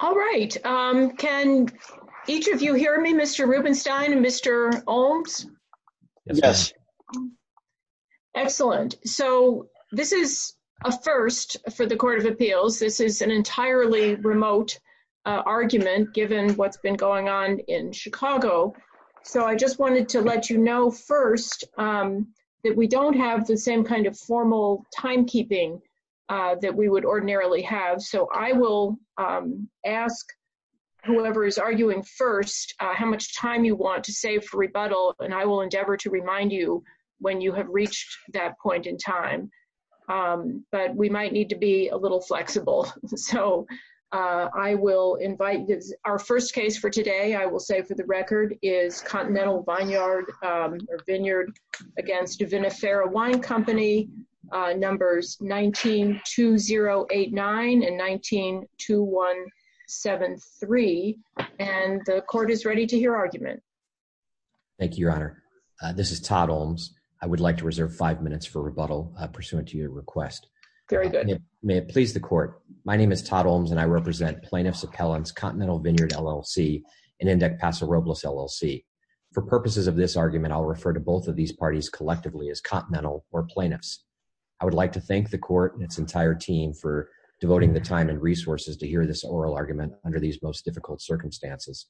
All right. Can each of you hear me, Mr. Rubenstein and Mr. Olms? Yes. Excellent. So this is a first for the Court of Appeals. This is an entirely remote argument given what's been going on in Chicago. So I just wanted to let you know first that we don't have the same kind of formal timekeeping that we would ordinarily have. So I will ask whoever is arguing first how much time you want to save for rebuttal, and I will endeavor to remind you when you have reached that point in time. But we might need to be a little flexible. So I will invite – our first case for today, I will say for the record, is Continental Vineyard or Vineyard v. Vinifera Wine Company, numbers 192089 and 192173. And the Court is ready to hear argument. Thank you, Your Honor. This is Todd Olms. I would like to reserve five minutes for rebuttal pursuant to your request. Very good. May it please the Court. My name is Todd Olms, and I represent Plaintiffs Appellants, Continental Vineyard, LLC, and Index Paso Robles, LLC. For purposes of this argument, I will refer to both of these parties collectively as Continental or Plaintiffs. I would like to thank the Court and its entire team for devoting the time and resources to hear this oral argument under these most difficult circumstances.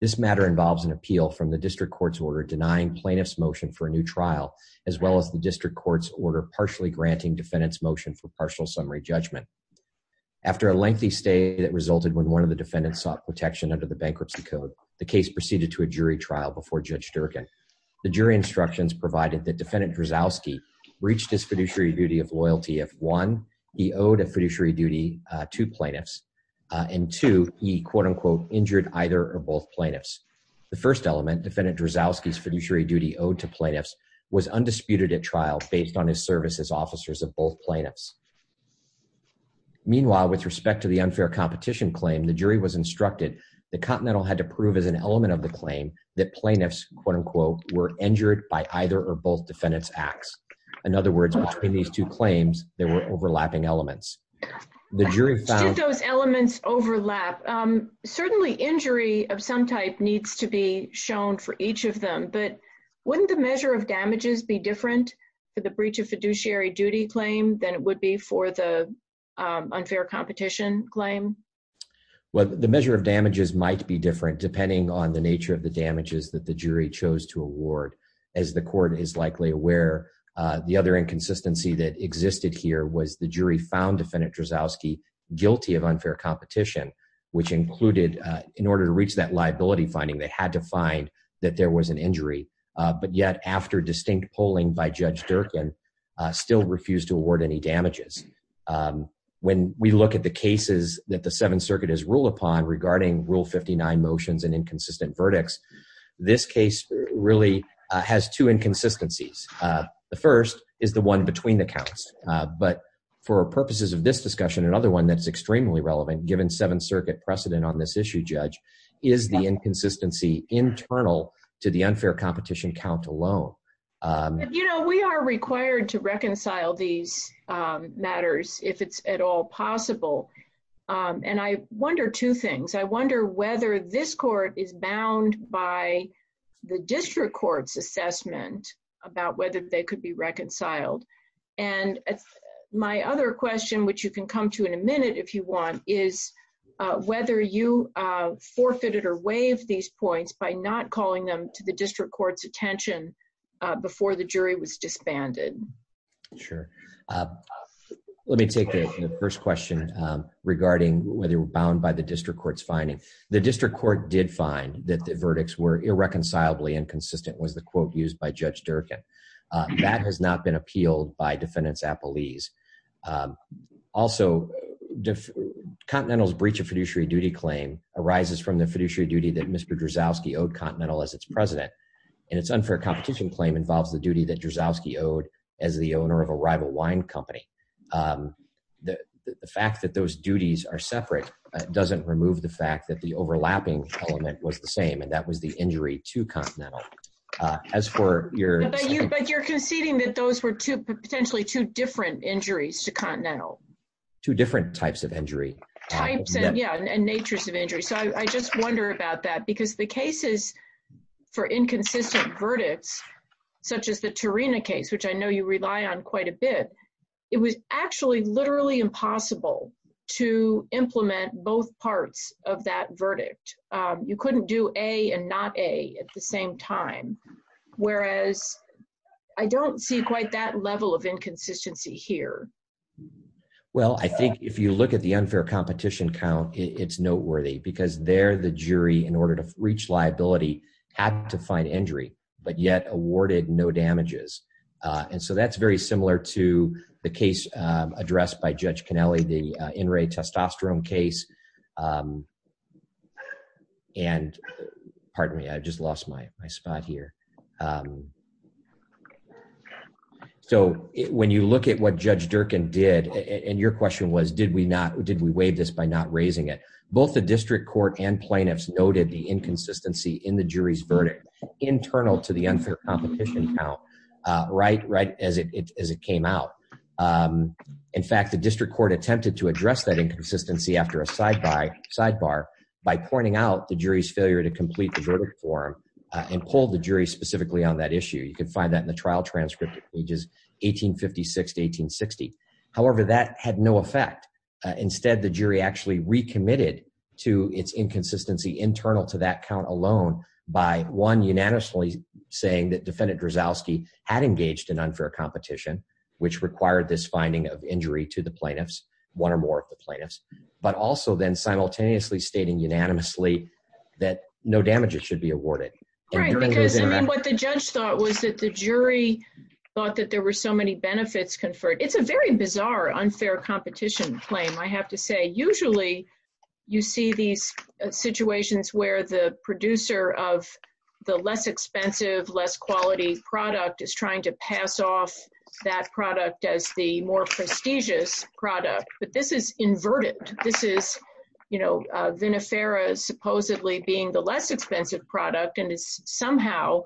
This matter involves an appeal from the district court's order denying plaintiffs' motion for a new trial, as well as the district court's order partially granting defendants' motion for partial summary judgment. After a lengthy stay that resulted when one of the defendants sought protection under the Bankruptcy Code, the case proceeded to a jury trial before Judge Durkan. The jury instructions provided that Defendant Drozowski reached his fiduciary duty of loyalty if, one, he owed a fiduciary duty to plaintiffs, and, two, he, quote-unquote, injured either or both plaintiffs. The first element, Defendant Drozowski's fiduciary duty owed to plaintiffs, was undisputed at trial based on his service as officers of both plaintiffs. Meanwhile, with respect to the unfair competition claim, the jury was instructed that Continental had to prove as an element of the claim that plaintiffs, quote-unquote, were injured by either or both defendants' acts. In other words, between these two claims, there were overlapping elements. Did those elements overlap? Certainly, injury of some type needs to be shown for each of them, but wouldn't the measure of damages be different for the breach of fiduciary duty claim than it would be for the unfair competition claim? Well, the measure of damages might be different depending on the nature of the damages that the jury chose to award. As the court is likely aware, the other inconsistency that existed here was the jury found Defendant Drozowski guilty of unfair competition, which included, in order to reach that liability finding, they had to find that there was an injury. But yet, after distinct polling by Judge Durkin, still refused to award any damages. When we look at the cases that the Seventh Circuit has ruled upon regarding Rule 59 motions and inconsistent verdicts, this case really has two inconsistencies. The first is the one between the counts. But for purposes of this discussion, another one that's extremely relevant, given Seventh Circuit precedent on this issue, Judge, is the inconsistency internal to the unfair competition count alone. You know, we are required to reconcile these matters if it's at all possible. And I wonder two things. I wonder whether this court is bound by the district court's assessment about whether they could be reconciled. And my other question, which you can come to in a minute if you want, is whether you forfeited or waived these points by not calling them to the district court's attention before the jury was disbanded. Sure. Let me take the first question regarding whether we're bound by the district court's finding. The district court did find that the verdicts were irreconcilably inconsistent, was the quote used by Judge Durkin. That has not been appealed by defendants' appellees. Also, Continental's breach of fiduciary duty claim arises from the fiduciary duty that Mr. Drasowski owed Continental as its president. And its unfair competition claim involves the duty that Drasowski owed as the owner of a rival wine company. The fact that those duties are separate doesn't remove the fact that the overlapping element was the same, and that was the injury to Continental. But you're conceding that those were potentially two different injuries to Continental? Two different types of injury. Types, yeah, and natures of injury. So I just wonder about that, because the cases for inconsistent verdicts, such as the Tarina case, which I know you rely on quite a bit, it was actually literally impossible to implement both parts of that verdict. You couldn't do A and not A at the same time, whereas I don't see quite that level of inconsistency here. Well, I think if you look at the unfair competition count, it's noteworthy, because there the jury, in order to reach liability, had to find injury, but yet awarded no damages. And so that's very similar to the case addressed by Judge Cannelli, the in-ray testosterone case. And pardon me, I just lost my spot here. So when you look at what Judge Durkin did, and your question was, did we waive this by not raising it? Both the district court and plaintiffs noted the inconsistency in the jury's verdict internal to the unfair competition count right as it came out. In fact, the district court attempted to address that inconsistency after a sidebar by pointing out the jury's failure to complete the verdict form and pulled the jury specifically on that issue. You can find that in the trial transcript at pages 1856 to 1860. However, that had no effect. Instead, the jury actually recommitted to its inconsistency internal to that count alone by, one, unanimously saying that Defendant Drozowski had engaged in unfair competition, which required this finding of injury to the plaintiffs, one or more of the plaintiffs, but also then simultaneously stating unanimously that no damages should be awarded. Right, because what the judge thought was that the jury thought that there were so many benefits conferred. It's a very bizarre unfair competition claim, I have to say. Usually, you see these situations where the producer of the less expensive, less quality product is trying to pass off that product as the more prestigious product. But this is inverted. This is Vinifera supposedly being the less expensive product and is somehow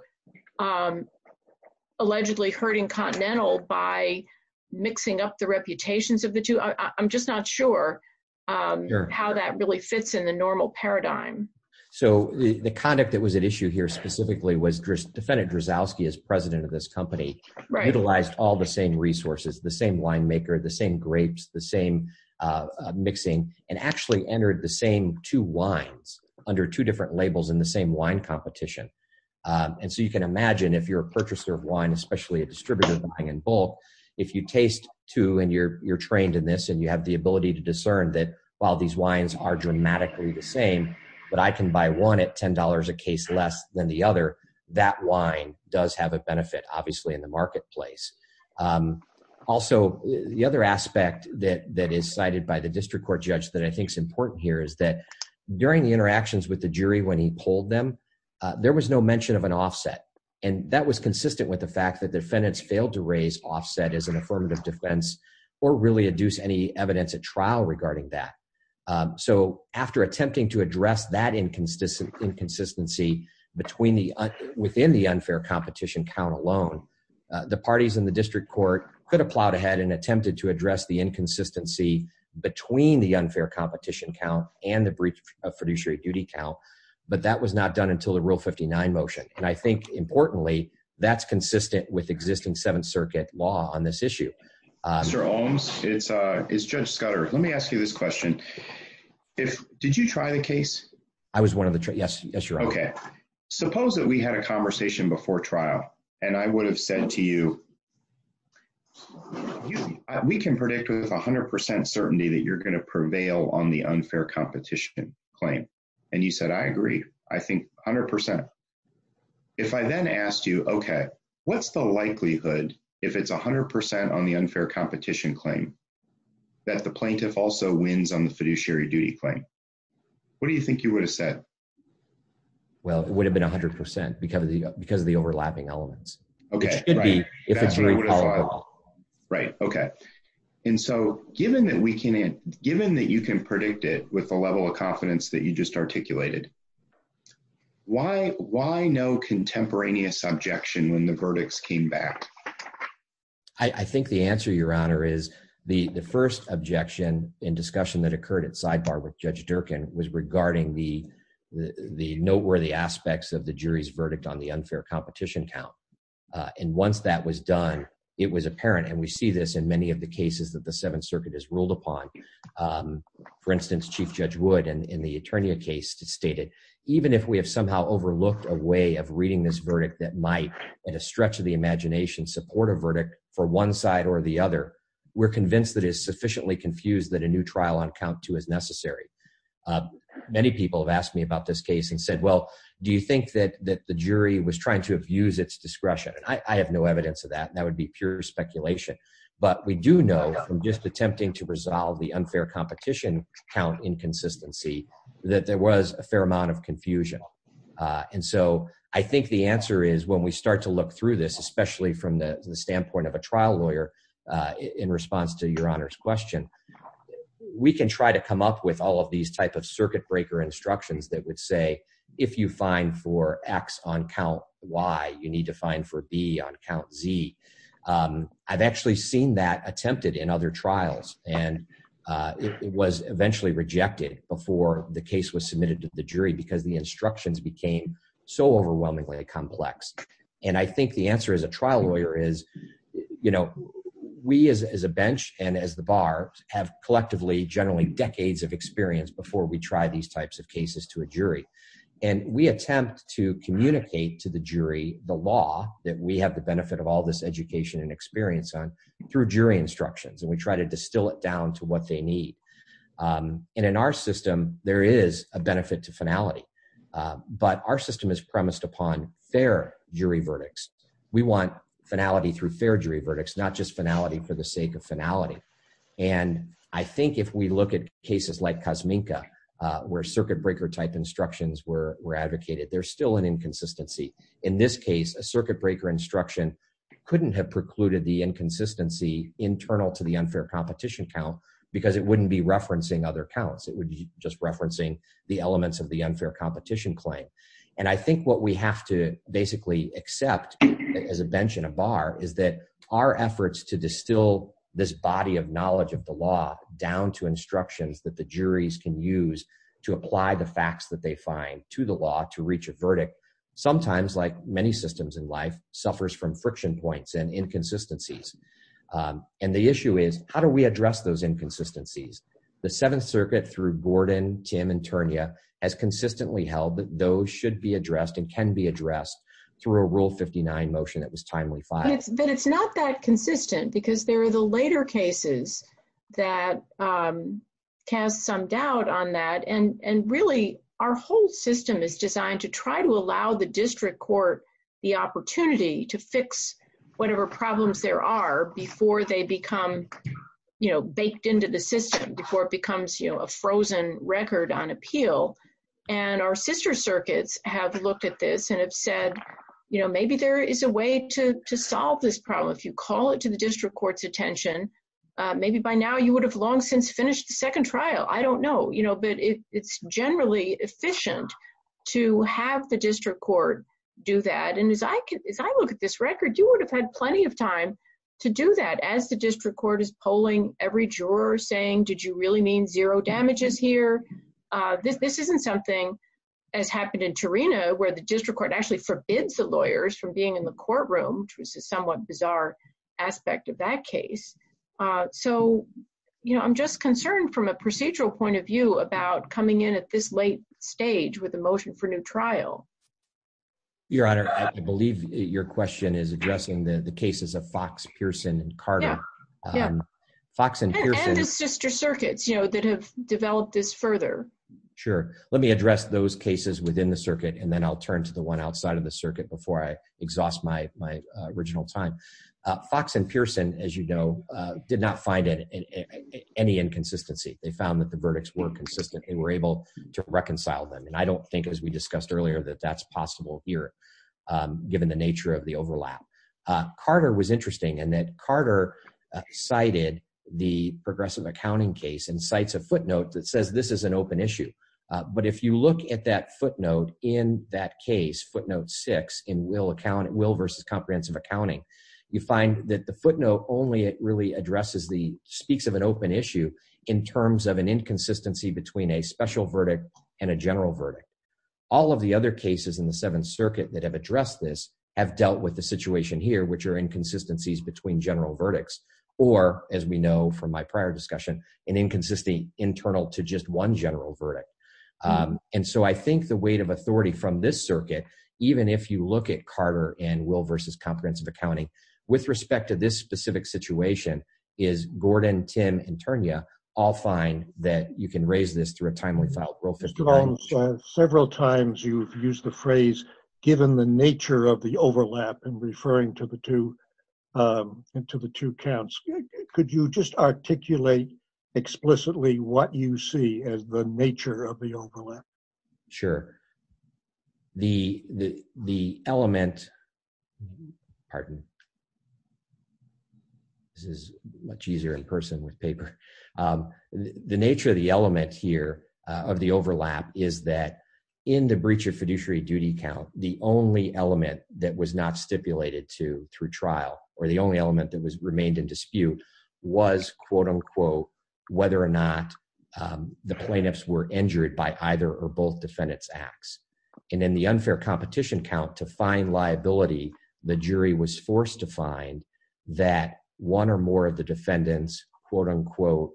allegedly hurting Continental by mixing up the reputations of the two. I'm just not sure how that really fits in the normal paradigm. The conduct that was at issue here specifically was Defendant Drozowski, as president of this company, utilized all the same resources, the same winemaker, the same grapes, the same mixing, and actually entered the same two wines under two different labels in the same wine competition. And so you can imagine if you're a purchaser of wine, especially a distributor buying in bulk, if you taste two and you're trained in this and you have the ability to discern that while these wines are dramatically the same, but I can buy one at $10 a case less than the other, that wine does have a benefit, obviously, in the marketplace. Also, the other aspect that is cited by the district court judge that I think is important here is that during the interactions with the jury when he polled them, there was no mention of an offset. And that was consistent with the fact that defendants failed to raise offset as an affirmative defense or really adduce any evidence at trial regarding that. So after attempting to address that inconsistency within the unfair competition count alone, the parties in the district court could have plowed ahead and attempted to address the inconsistency between the unfair competition count and the breach of fiduciary duty count, but that was not done until the Rule 59 motion. And I think, importantly, that's consistent with existing Seventh Circuit law on this issue. Mr. Ohms, it's Judge Scudder. Let me ask you this question. Did you try the case? I was one of the, yes, you're right. Okay. Suppose that we had a conversation before trial, and I would have said to you, we can predict with 100% certainty that you're going to prevail on the unfair competition claim. And you said, I agree, I think 100%. If I then asked you, okay, what's the likelihood if it's 100% on the unfair competition claim that the plaintiff also wins on the fiduciary duty claim? What do you think you would have said? Well, it would have been 100% because of the overlapping elements. Okay. It should be. Right. Okay. And so, given that you can predict it with the level of confidence that you just articulated, why no contemporaneous objection when the verdicts came back? I think the answer, Your Honor, is the first objection in discussion that occurred at sidebar with Judge Durkin was regarding the noteworthy aspects of the jury's verdict on the unfair competition count. And once that was done, it was apparent, and we see this in many of the cases that the Seventh Circuit has ruled upon. For instance, Chief Judge Wood in the Eternia case stated, even if we have somehow overlooked a way of reading this verdict that might, at a stretch of the imagination, support a verdict for one side or the other, we're convinced that it is sufficiently confused that a new trial on count two is necessary. Many people have asked me about this case and said, well, do you think that the jury was trying to abuse its discretion? And I have no evidence of that. That would be pure speculation. But we do know from just attempting to resolve the unfair competition count inconsistency that there was a fair amount of confusion. And so I think the answer is when we start to look through this, especially from the standpoint of a trial lawyer, in response to Your Honor's question, we can try to come up with all of these type of circuit breaker instructions that would say, if you find for X on count Y, you need to find for B on count Z. I've actually seen that attempted in other trials, and it was eventually rejected before the case was submitted to the jury because the instructions became so overwhelmingly complex. And I think the answer as a trial lawyer is, you know, we as a bench and as the bar have collectively generally decades of experience before we try these types of cases to a jury. And we attempt to communicate to the jury the law that we have the benefit of all this education and experience on through jury instructions. And we try to distill it down to what they need. And in our system, there is a benefit to finality. But our system is premised upon fair jury verdicts. We want finality through fair jury verdicts, not just finality for the sake of finality. And I think if we look at cases like Kosminka, where circuit breaker type instructions were advocated, there's still an inconsistency. In this case, a circuit breaker instruction couldn't have precluded the inconsistency internal to the unfair competition count, because it wouldn't be referencing other counts. It would be just referencing the elements of the unfair competition claim. And I think what we have to basically accept as a bench and a bar is that our efforts to distill this body of knowledge of the law down to instructions that the juries can use to apply the facts that they find to the law to reach a verdict, sometimes, like many systems in life, suffers from friction points and inconsistencies. And the issue is, how do we address those inconsistencies? The Seventh Circuit, through Gordon, Tim, and Ternia, has consistently held that those should be addressed and can be addressed through a Rule 59 motion that was timely filed. But it's not that consistent, because there are the later cases that cast some doubt on that. And really, our whole system is designed to try to allow the district court the opportunity to fix whatever problems there are before they become baked into the system, before it becomes a frozen record on appeal. And our sister circuits have looked at this and have said, maybe there is a way to solve this problem. If you call it to the district court's attention, maybe by now you would have long since finished the second trial. I don't know. But it's generally efficient to have the district court do that. And as I look at this record, you would have had plenty of time to do that, as the district court is polling every juror, saying, did you really mean zero damages here? This isn't something, as happened in Ternia, where the district court actually forbids the lawyers from being in the courtroom, which was a somewhat bizarre aspect of that case. So I'm just concerned from a procedural point of view about coming in at this late stage with a motion for new trial. Your Honor, I believe your question is addressing the cases of Fox, Pearson, and Carter. Yeah. Fox and Pearson. And the sister circuits that have developed this further. Sure. Let me address those cases within the circuit, and then I'll turn to the one outside of the circuit before I exhaust my original time. Fox and Pearson, as you know, did not find any inconsistency. They found that the verdicts were consistent and were able to reconcile them. And I don't think, as we discussed earlier, that that's possible here, given the nature of the overlap. Carter was interesting in that Carter cited the progressive accounting case and cites a footnote that says this is an open issue. But if you look at that footnote in that case, footnote six in will account, it will versus comprehensive accounting. You find that the footnote only really addresses the speaks of an open issue in terms of an inconsistency between a special verdict and a general verdict. All of the other cases in the Seventh Circuit that have addressed this have dealt with the situation here, which are inconsistencies between general verdicts or, as we know from my prior discussion, an inconsistency internal to just one general verdict. And so I think the weight of authority from this circuit, even if you look at Carter and will versus comprehensive accounting, with respect to this specific situation, is Gordon, Tim, and Tanya all fine that you can raise this through a timely file. Several times you've used the phrase, given the nature of the overlap and referring to the two counts. Could you just articulate explicitly what you see as the nature of the overlap? Sure. The element. Pardon. This is much easier in person with paper. The nature of the element here of the overlap is that in the breach of fiduciary duty count, the only element that was not stipulated to through trial or the only element that was remained in dispute was, quote unquote, whether or not the plaintiffs were injured by either or both defendants acts. And in the unfair competition count, to find liability, the jury was forced to find that one or more of the defendants, quote unquote,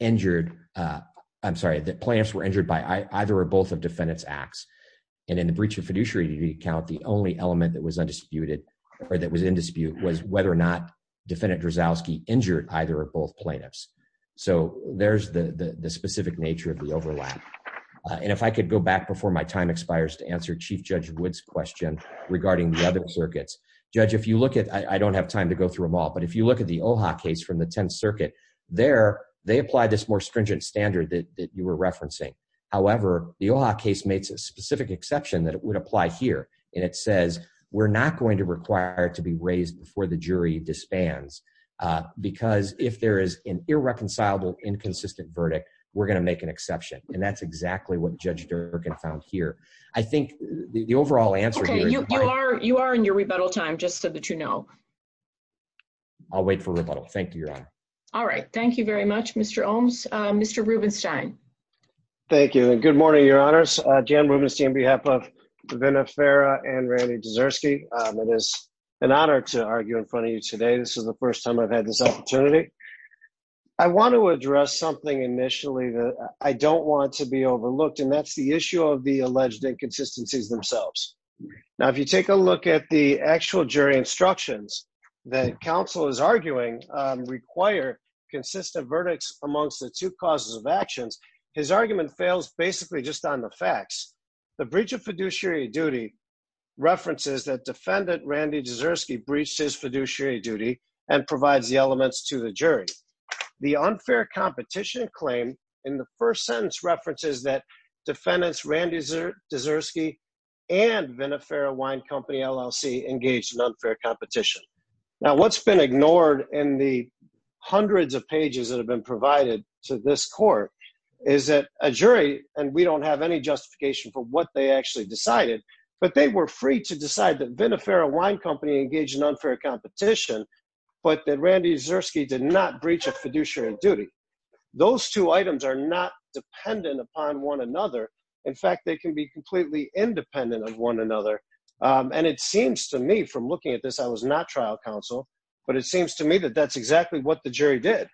injured. I'm sorry, the plaintiffs were injured by either or both of defendants acts. And in the breach of fiduciary duty count, the only element that was undisputed or that was in dispute was whether or not defendant Drozdowski injured either or both plaintiffs. So there's the specific nature of the overlap. And if I could go back before my time expires to answer Chief Judge Wood's question regarding the other circuits. Judge, if you look at, I don't have time to go through them all, but if you look at the OHA case from the 10th Circuit, there, they apply this more stringent standard that you were referencing. However, the OHA case makes a specific exception that it would apply here. And it says we're not going to require it to be raised before the jury disbands, because if there is an irreconcilable, inconsistent verdict, we're going to make an exception. And that's exactly what Judge Durkan found here. I think the overall answer. You are you are in your rebuttal time just so that you know. I'll wait for rebuttal. Thank you, Your Honor. All right. Thank you very much, Mr. Olmes. Mr. Rubenstein. Thank you and good morning, Your Honors. Jan Rubenstein on behalf of Vinna Farah and Randy Dzersky. It is an honor to argue in front of you today. This is the first time I've had this opportunity. I want to address something initially that I don't want to be overlooked, and that's the issue of the alleged inconsistencies themselves. Now, if you take a look at the actual jury instructions that counsel is arguing require consistent verdicts amongst the two causes of actions, his argument fails basically just on the facts. The breach of fiduciary duty references that defendant Randy Dzersky breached his fiduciary duty and provides the elements to the jury. The unfair competition claim in the first sentence references that defendants Randy Dzersky and Vinna Farah Wine Company LLC engaged in unfair competition. Now, what's been ignored in the hundreds of pages that have been provided to this court is that a jury and we don't have any justification for what they actually decided, but they were free to decide that Vinna Farah Wine Company engaged in unfair competition, but that Randy Dzersky did not breach of fiduciary duty. Those two items are not dependent upon one another. In fact, they can be completely independent of one another. And it seems to me from looking at this, I was not trial counsel, but it seems to me that that's exactly what the jury did.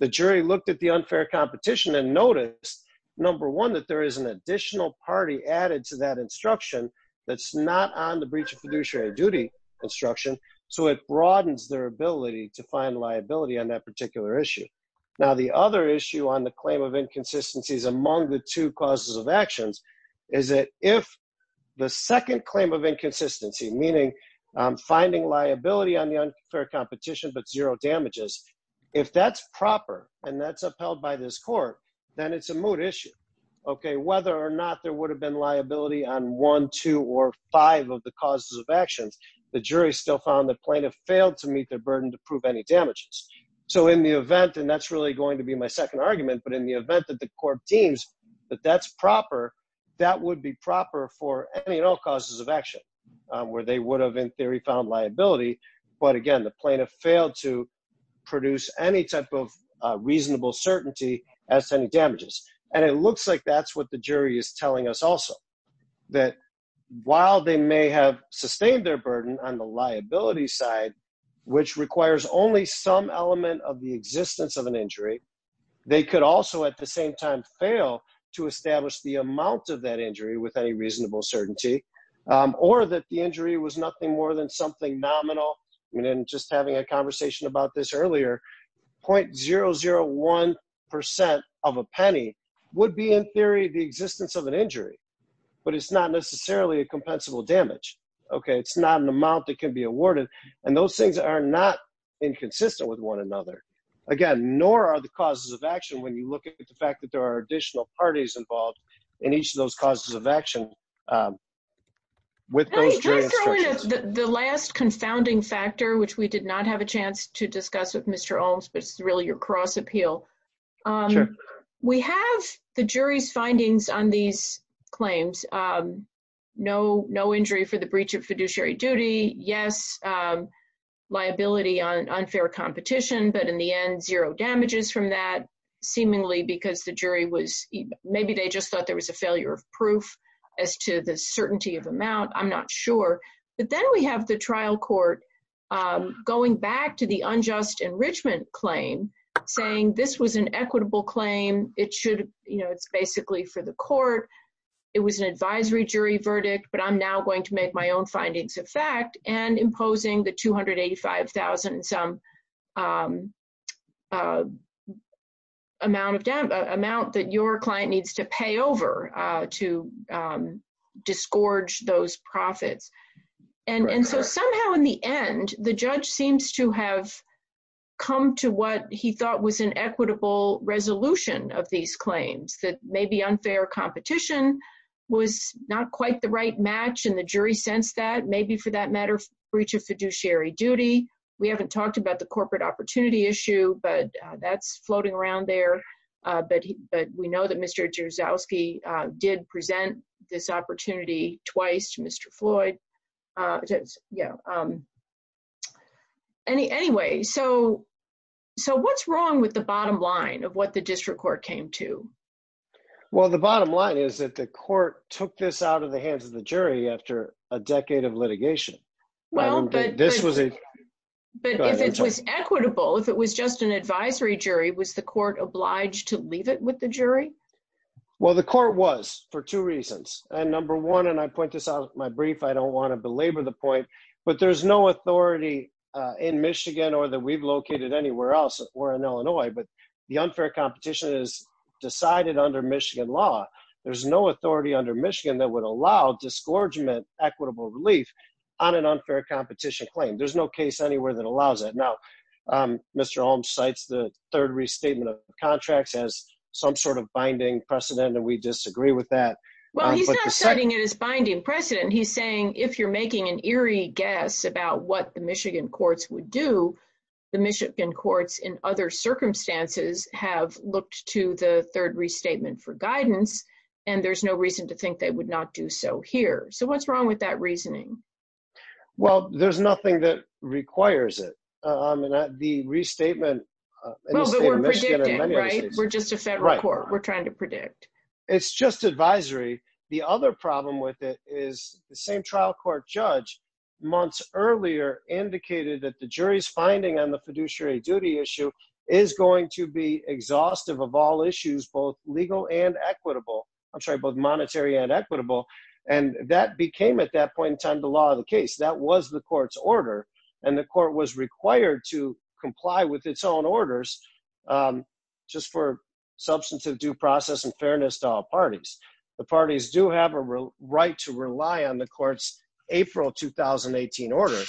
The jury looked at the unfair competition and noticed, number one, that there is an additional party added to that instruction that's not on the breach of fiduciary duty instruction. So it broadens their ability to find liability on that particular issue. Now, the other issue on the claim of inconsistencies among the two causes of actions is that if the second claim of inconsistency, meaning finding liability on the unfair competition, but zero damages. If that's proper and that's upheld by this court, then it's a moot issue. Okay, whether or not there would have been liability on one, two, or five of the causes of actions, the jury still found the plaintiff failed to meet their burden to prove any damages. So in the event, and that's really going to be my second argument, but in the event that the court deems that that's proper, that would be proper for any and all causes of action where they would have in theory found liability. But again, the plaintiff failed to produce any type of reasonable certainty as to any damages. And it looks like that's what the jury is telling us also, that while they may have sustained their burden on the liability side, which requires only some element of the existence of an injury. They could also at the same time fail to establish the amount of that injury with any reasonable certainty or that the injury was nothing more than something nominal. I mean, in just having a conversation about this earlier, 0.001% of a penny would be in theory, the existence of an injury, but it's not necessarily a compensable damage. Okay. It's not an amount that can be awarded. And those things are not inconsistent with one another. Again, nor are the causes of action when you look at the fact that there are additional parties involved in each of those causes of action. With the last confounding factor, which we did not have a chance to discuss with Mr. Holmes, but it's really your cross appeal. We have the jury's findings on these claims. No, no injury for the breach of fiduciary duty. Yes. Liability on unfair competition, but in the end zero damages from that seemingly because the jury was maybe they just thought there was a failure of proof as to the certainty of amount, I'm not sure. But then we have the trial court going back to the unjust enrichment claim, saying this was an equitable claim, it should, you know, it's basically for the court. It was an advisory jury verdict, but I'm now going to make my own findings of fact and imposing the 285,000 some amount of debt amount that your client needs to pay over to disgorge those profits. And so somehow in the end, the judge seems to have come to what he thought was an equitable resolution of these claims that may be unfair competition was not quite the right match and the jury sense that maybe for that matter, breach of fiduciary duty. We haven't talked about the corporate opportunity issue, but that's floating around there. But, but we know that Mr jerzyowski did present this opportunity twice to Mr Floyd. Yeah. Any anyway so. So what's wrong with the bottom line of what the district court came to. Well, the bottom line is that the court took this out of the hands of the jury after a decade of litigation. Well, this was a, but it was equitable if it was just an advisory jury was the court obliged to leave it with the jury. Well, the court was for two reasons, and number one and I point this out my brief I don't want to belabor the point, but there's no authority in Michigan or that we've located anywhere else, or in Illinois, but the unfair competition is decided under Michigan law. There's no authority under Michigan that would allow disgorgement equitable relief on an unfair competition claim there's no case anywhere that allows it now. Mr. Holmes cites the third restatement of contracts as some sort of binding precedent and we disagree with that. Well, he's not citing it as binding precedent he's saying if you're making an eerie guess about what the Michigan courts would do the Michigan courts in other circumstances have looked to the third restatement for guidance. And there's no reason to think they would not do so here so what's wrong with that reasoning. Well, there's nothing that requires it. The restatement. Right, we're just a federal court we're trying to predict. It's just advisory. The other problem with it is the same trial court judge months earlier indicated that the jury's finding on the fiduciary duty issue is going to be exhaustive of all issues both legal and equitable. I'm sorry, both monetary and equitable, and that became at that point in time, the law of the case that was the court's order, and the court was required to comply with its own orders, just for substance of due process and fairness to all parties. The parties do have a right to rely on the courts, April 2018 order,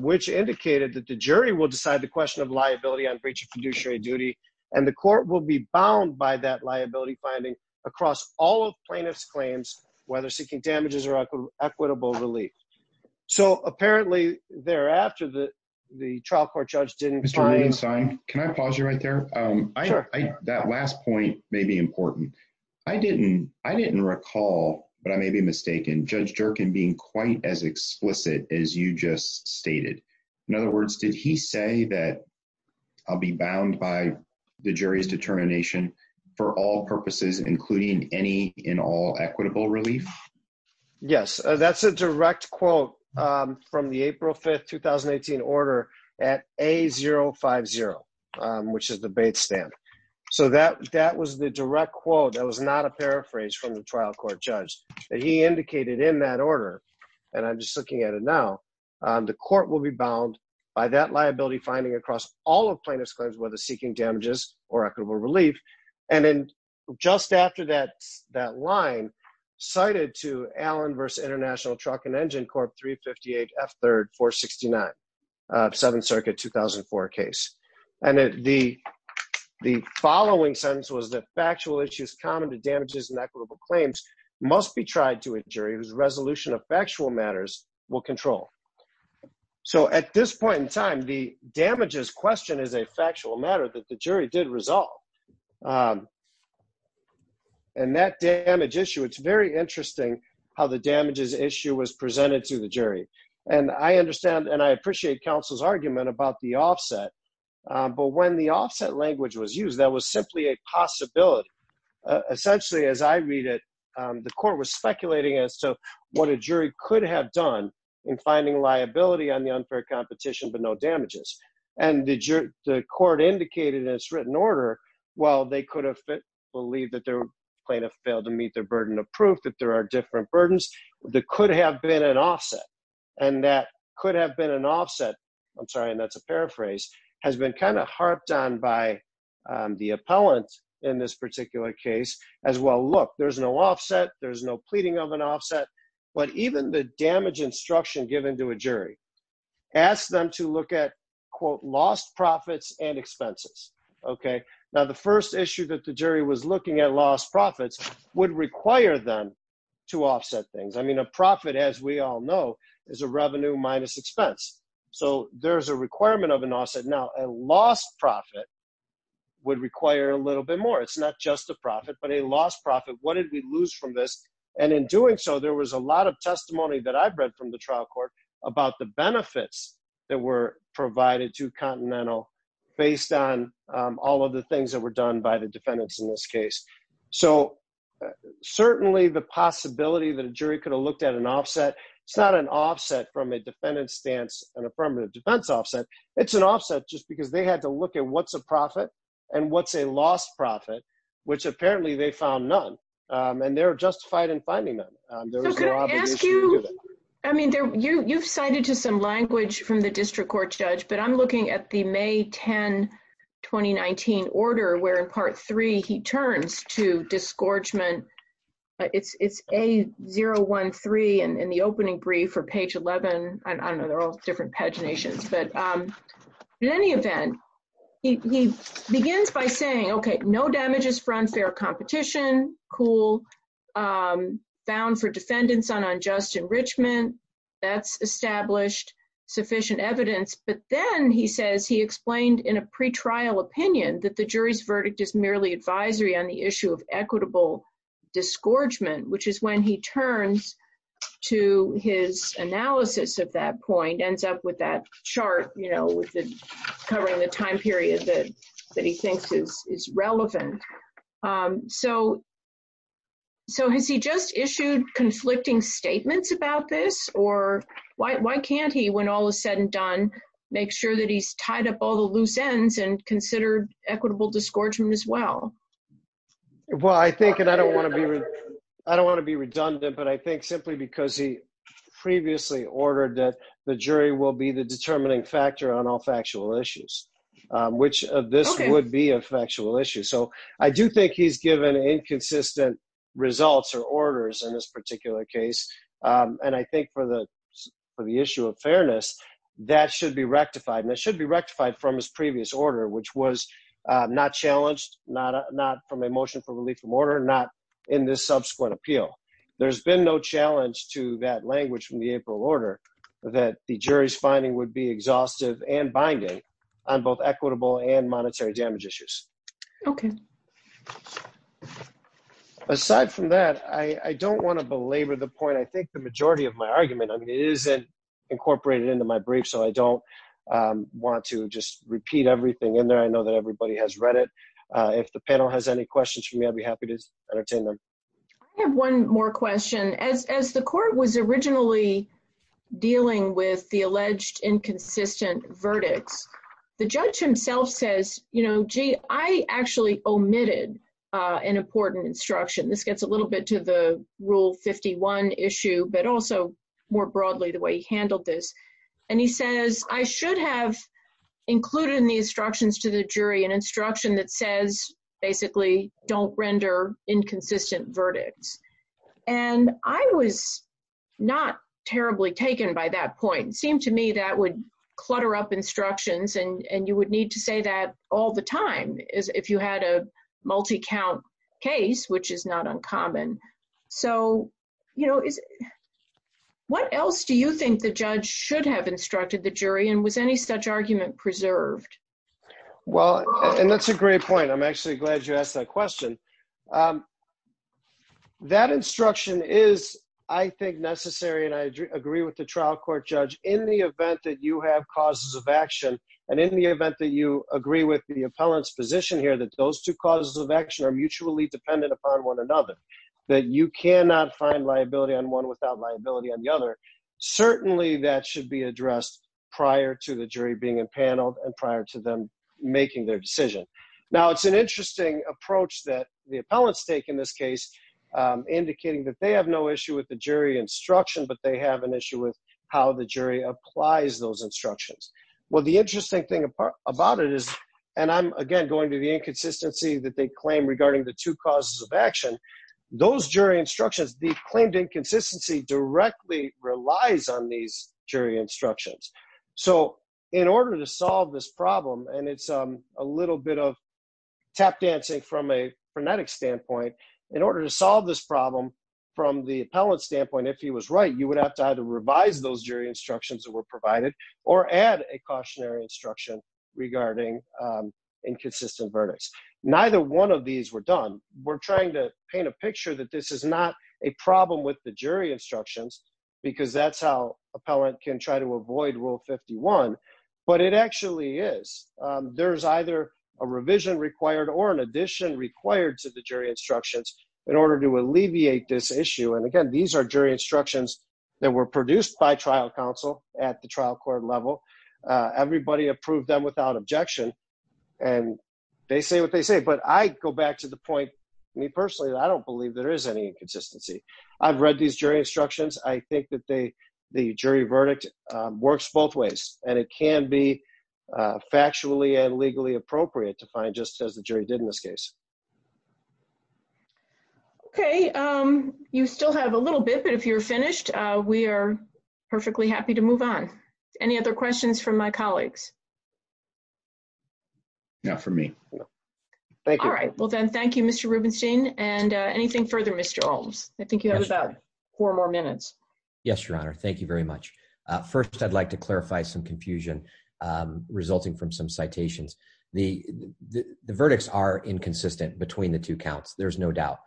which indicated that the jury will decide the question of liability on breach of fiduciary duty, and the court will be bound by that liability finding across all plaintiffs claims, whether seeking damages or equitable relief. So, apparently, thereafter, the, the trial court judge didn't sign. Can I pause you right there. That last point may be important. I didn't, I didn't recall, but I may be mistaken judge jerk and being quite as explicit as you just stated. In other words, did he say that I'll be bound by the jury's determination for all purposes, including any in all equitable relief. Yes, that's a direct quote from the April 5 2018 order at a 050, which is the bait stamp. So that that was the direct quote that was not a paraphrase from the trial court judge that he indicated in that order. And I'm just looking at it. Now, the court will be bound by that liability finding across all of plaintiffs claims, whether seeking damages or equitable relief. And then just after that, that line cited to Allen versus International Truck and Engine Corp 358 F third for 69. Seven circuit 2004 case. And the, the following sentence was that factual issues common to damages and equitable claims must be tried to a jury whose resolution of factual matters will control. So at this point in time, the damages question is a factual matter that the jury did result. And that damage issue. It's very interesting how the damages issue was presented to the jury. And I understand and I appreciate counsel's argument about the offset. But when the offset language was used, that was simply a possibility. Essentially, as I read it, the court was speculating as to what a jury could have done in finding liability on the unfair competition, but no damages. And the court indicated in its written order. Well, they could have believed that their plaintiff failed to meet their burden of proof that there are different burdens that could have been an offset. And that could have been an offset. I'm sorry. And that's a paraphrase has been kind of harped on by the appellant in this particular case as well. Look, there's no offset. There's no pleading of an offset. But even the damage instruction given to a jury asked them to look at, quote, lost profits and expenses. Okay. Now, the first issue that the jury was looking at lost profits would require them to offset things. I mean, a profit, as we all know, is a revenue minus expense. So there's a requirement of an offset. Now, a lost profit would require a little bit more. It's not just a profit, but a lost profit. What did we lose from this? And in doing so, there was a lot of testimony that I've read from the trial court about the benefits that were provided to Continental based on all of the things that were done by the defendants in this case. So certainly the possibility that a jury could have looked at an offset, it's not an offset from a defendant's stance and a permanent defense offset. It's an offset just because they had to look at what's a profit and what's a lost profit, which apparently they found none. And they're justified in finding them. So could I ask you, I mean, you've cited to some language from the district court judge, but I'm looking at the May 10, 2019 order where in part three, he turns to disgorgement. It's A013 in the opening brief or page 11. I don't know, they're all different paginations. But in any event, he begins by saying, okay, no damages for unfair competition. Cool. Bound for defendants on unjust enrichment. That's established sufficient evidence. But then he says he explained in a pretrial opinion that the jury's verdict is merely advisory on the issue of equitable disgorgement, which is when he turns to his analysis of that point, ends up with that chart, you know, covering the time period that he thinks is relevant. So has he just issued conflicting statements about this? Or why can't he, when all is said and done, make sure that he's tied up all the loose ends and considered equitable disgorgement as well? Well, I think, and I don't want to be, I don't want to be redundant, but I think simply because he previously ordered that the jury will be the determining factor on all factual issues, which this would be a factual issue. So I do think he's given inconsistent results or orders in this particular case. And I think for the issue of fairness, that should be rectified. And it should be rectified from his previous order, which was not challenged, not from a motion for relief from order, not in this subsequent appeal. There's been no challenge to that language from the April order that the jury's finding would be exhaustive and binding on both equitable and monetary damage issues. Okay. Aside from that, I don't want to belabor the point. I think the majority of my argument, I mean, it isn't incorporated into my brief, so I don't want to just repeat everything in there. I know that everybody has read it. If the panel has any questions for me, I'd be happy to entertain them. I have one more question. As the court was originally dealing with the alleged inconsistent verdicts, the judge himself says, you know, gee, I actually omitted an important instruction. This gets a little bit to the Rule 51 issue, but also more broadly the way he handled this. And he says, I should have included in the instructions to the jury an instruction that says, basically, don't render inconsistent verdicts. And I was not terribly taken by that point. It seemed to me that would clutter up instructions, and you would need to say that all the time if you had a multi-count case, which is not uncommon. So, you know, what else do you think the judge should have instructed the jury, and was any such argument preserved? Well, and that's a great point. I'm actually glad you asked that question. That instruction is, I think, necessary, and I agree with the trial court judge. In the event that you have causes of action, and in the event that you agree with the appellant's position here that those two causes of action are mutually dependent upon one another, that you cannot find liability on one without liability on the other, certainly that should be addressed prior to the jury being in panel and prior to them making their decision. Now, it's an interesting approach that the appellants take in this case, indicating that they have no issue with the jury instruction, but they have an issue with how the jury applies those instructions. Well, the interesting thing about it is, and I'm, again, going to the inconsistency that they claim regarding the two causes of action, those jury instructions, the claimed inconsistency directly relies on these jury instructions. So, in order to solve this problem, and it's a little bit of tap dancing from a frenetic standpoint, in order to solve this problem, from the appellant's standpoint, if he was right, you would have to either revise those jury instructions that were provided or add a cautionary instruction regarding inconsistent verdicts. Neither one of these were done. We're trying to paint a picture that this is not a problem with the jury instructions, because that's how appellant can try to avoid Rule 51, but it actually is. There's either a revision required or an addition required to the jury instructions in order to alleviate this issue. And, again, these are jury instructions that were produced by trial counsel at the trial court level. Everybody approved them without objection, and they say what they say. But I go back to the point, me personally, that I don't believe there is any inconsistency. I've read these jury instructions. I think that the jury verdict works both ways, and it can be factually and legally appropriate to find, just as the jury did in this case. Okay. You still have a little bit, but if you're finished, we are perfectly happy to move on. Any other questions from my colleagues? Not for me. All right. Well, then, thank you, Mr. Rubenstein. And anything further, Mr. Olmes? I think you have about four more minutes. Yes, Your Honor. Thank you very much. First, I'd like to clarify some confusion resulting from some citations. The verdicts are inconsistent between the two counts, there's no doubt.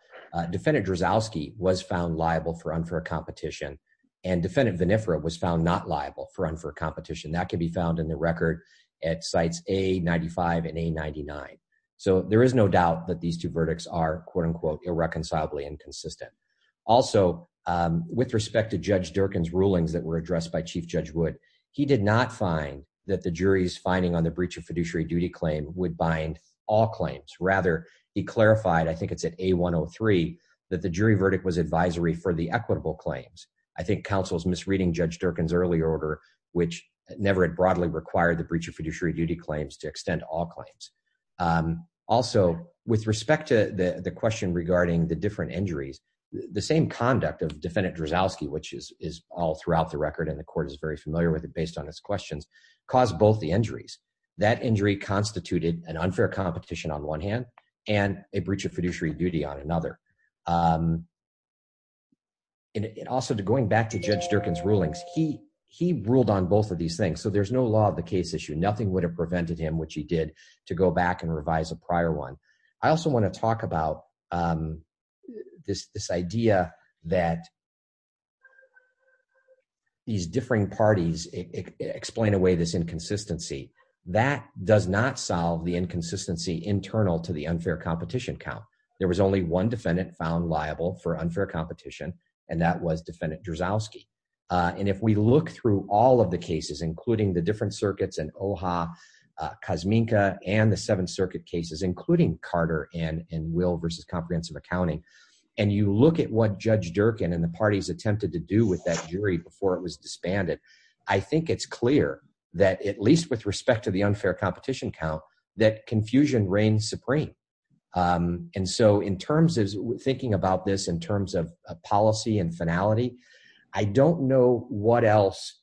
Defendant Drozowski was found liable for unfair competition, and Defendant Vinifera was found not liable for unfair competition. That can be found in the record at Cites A-95 and A-99. So there is no doubt that these two verdicts are, quote-unquote, irreconcilably inconsistent. Also, with respect to Judge Durkin's rulings that were addressed by Chief Judge Wood, he did not find that the jury's finding on the breach of fiduciary duty claim would bind all claims. Rather, he clarified, I think it's at A-103, that the jury verdict was advisory for the equitable claims. I think counsel's misreading Judge Durkin's early order, which never had broadly required the breach of fiduciary duty claims to extend all claims. Also, with respect to the question regarding the different injuries, the same conduct of Defendant Drozowski, which is all throughout the record and the court is very familiar with it based on its questions, caused both the injuries. That injury constituted an unfair competition on one hand and a breach of fiduciary duty on another. Also, going back to Judge Durkin's rulings, he ruled on both of these things, so there's no law of the case issue. Nothing would have prevented him, which he did, to go back and revise a prior one. I also want to talk about this idea that these differing parties explain away this inconsistency. That does not solve the inconsistency internal to the unfair competition count. There was only one defendant found liable for unfair competition, and that was Defendant Drozowski. If we look through all of the cases, including the different circuits and OHA, COSMINCA, and the Seventh Circuit cases, including Carter and Will v. Comprehensive Accounting, and you look at what Judge Durkin and the parties attempted to do with that jury before it was disbanded, I think it's clear that, at least with respect to the unfair competition count, that confusion reigns supreme. Thinking about this in terms of policy and finality, I don't know what else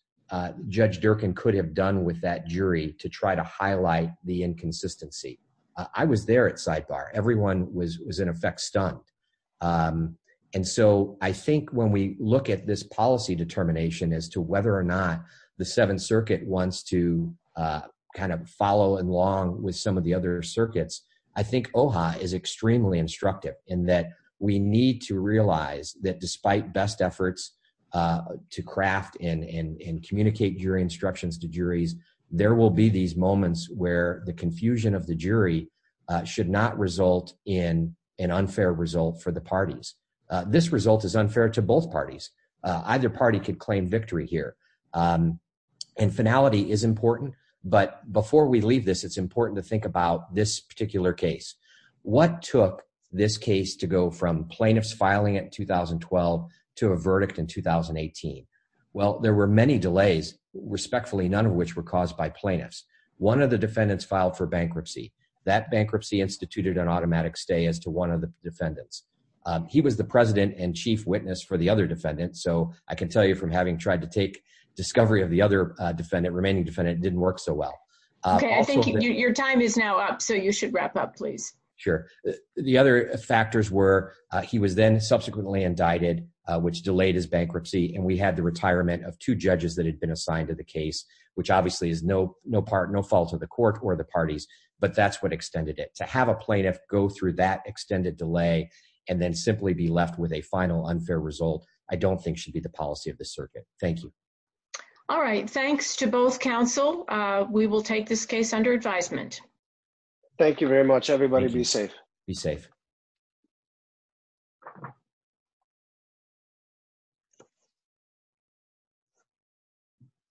Judge Durkin could have done with that jury to try to highlight the inconsistency. I was there at sidebar. Everyone was, in effect, stunned. I think when we look at this policy determination as to whether or not the Seventh Circuit wants to follow along with some of the other circuits, I think OHA is extremely instructive in that we need to realize that despite best efforts to craft and communicate jury instructions to juries, there will be these moments where the confusion of the jury should not result in an unfair result for the parties. This result is unfair to both parties. Either party could claim victory here. Finality is important, but before we leave this, it's important to think about this particular case. What took this case to go from plaintiffs filing it in 2012 to a verdict in 2018? Well, there were many delays, respectfully none of which were caused by plaintiffs. One of the defendants filed for bankruptcy. That bankruptcy instituted an automatic stay as to one of the defendants. He was the president and chief witness for the other defendants. I can tell you from having tried to take discovery of the remaining defendant, it didn't work so well. Okay. I think your time is now up, so you should wrap up, please. Sure. The other factors were he was then subsequently indicted, which delayed his bankruptcy. We had the retirement of two judges that had been assigned to the case, which obviously is no fault of the court or the parties, but that's what extended it. To have a plaintiff go through that extended delay and then simply be left with a final unfair result, I don't think should be the policy of the circuit. Thank you. All right. Thanks to both counsel. We will take this case under advisement. Thank you very much, everybody. Be safe. Be safe.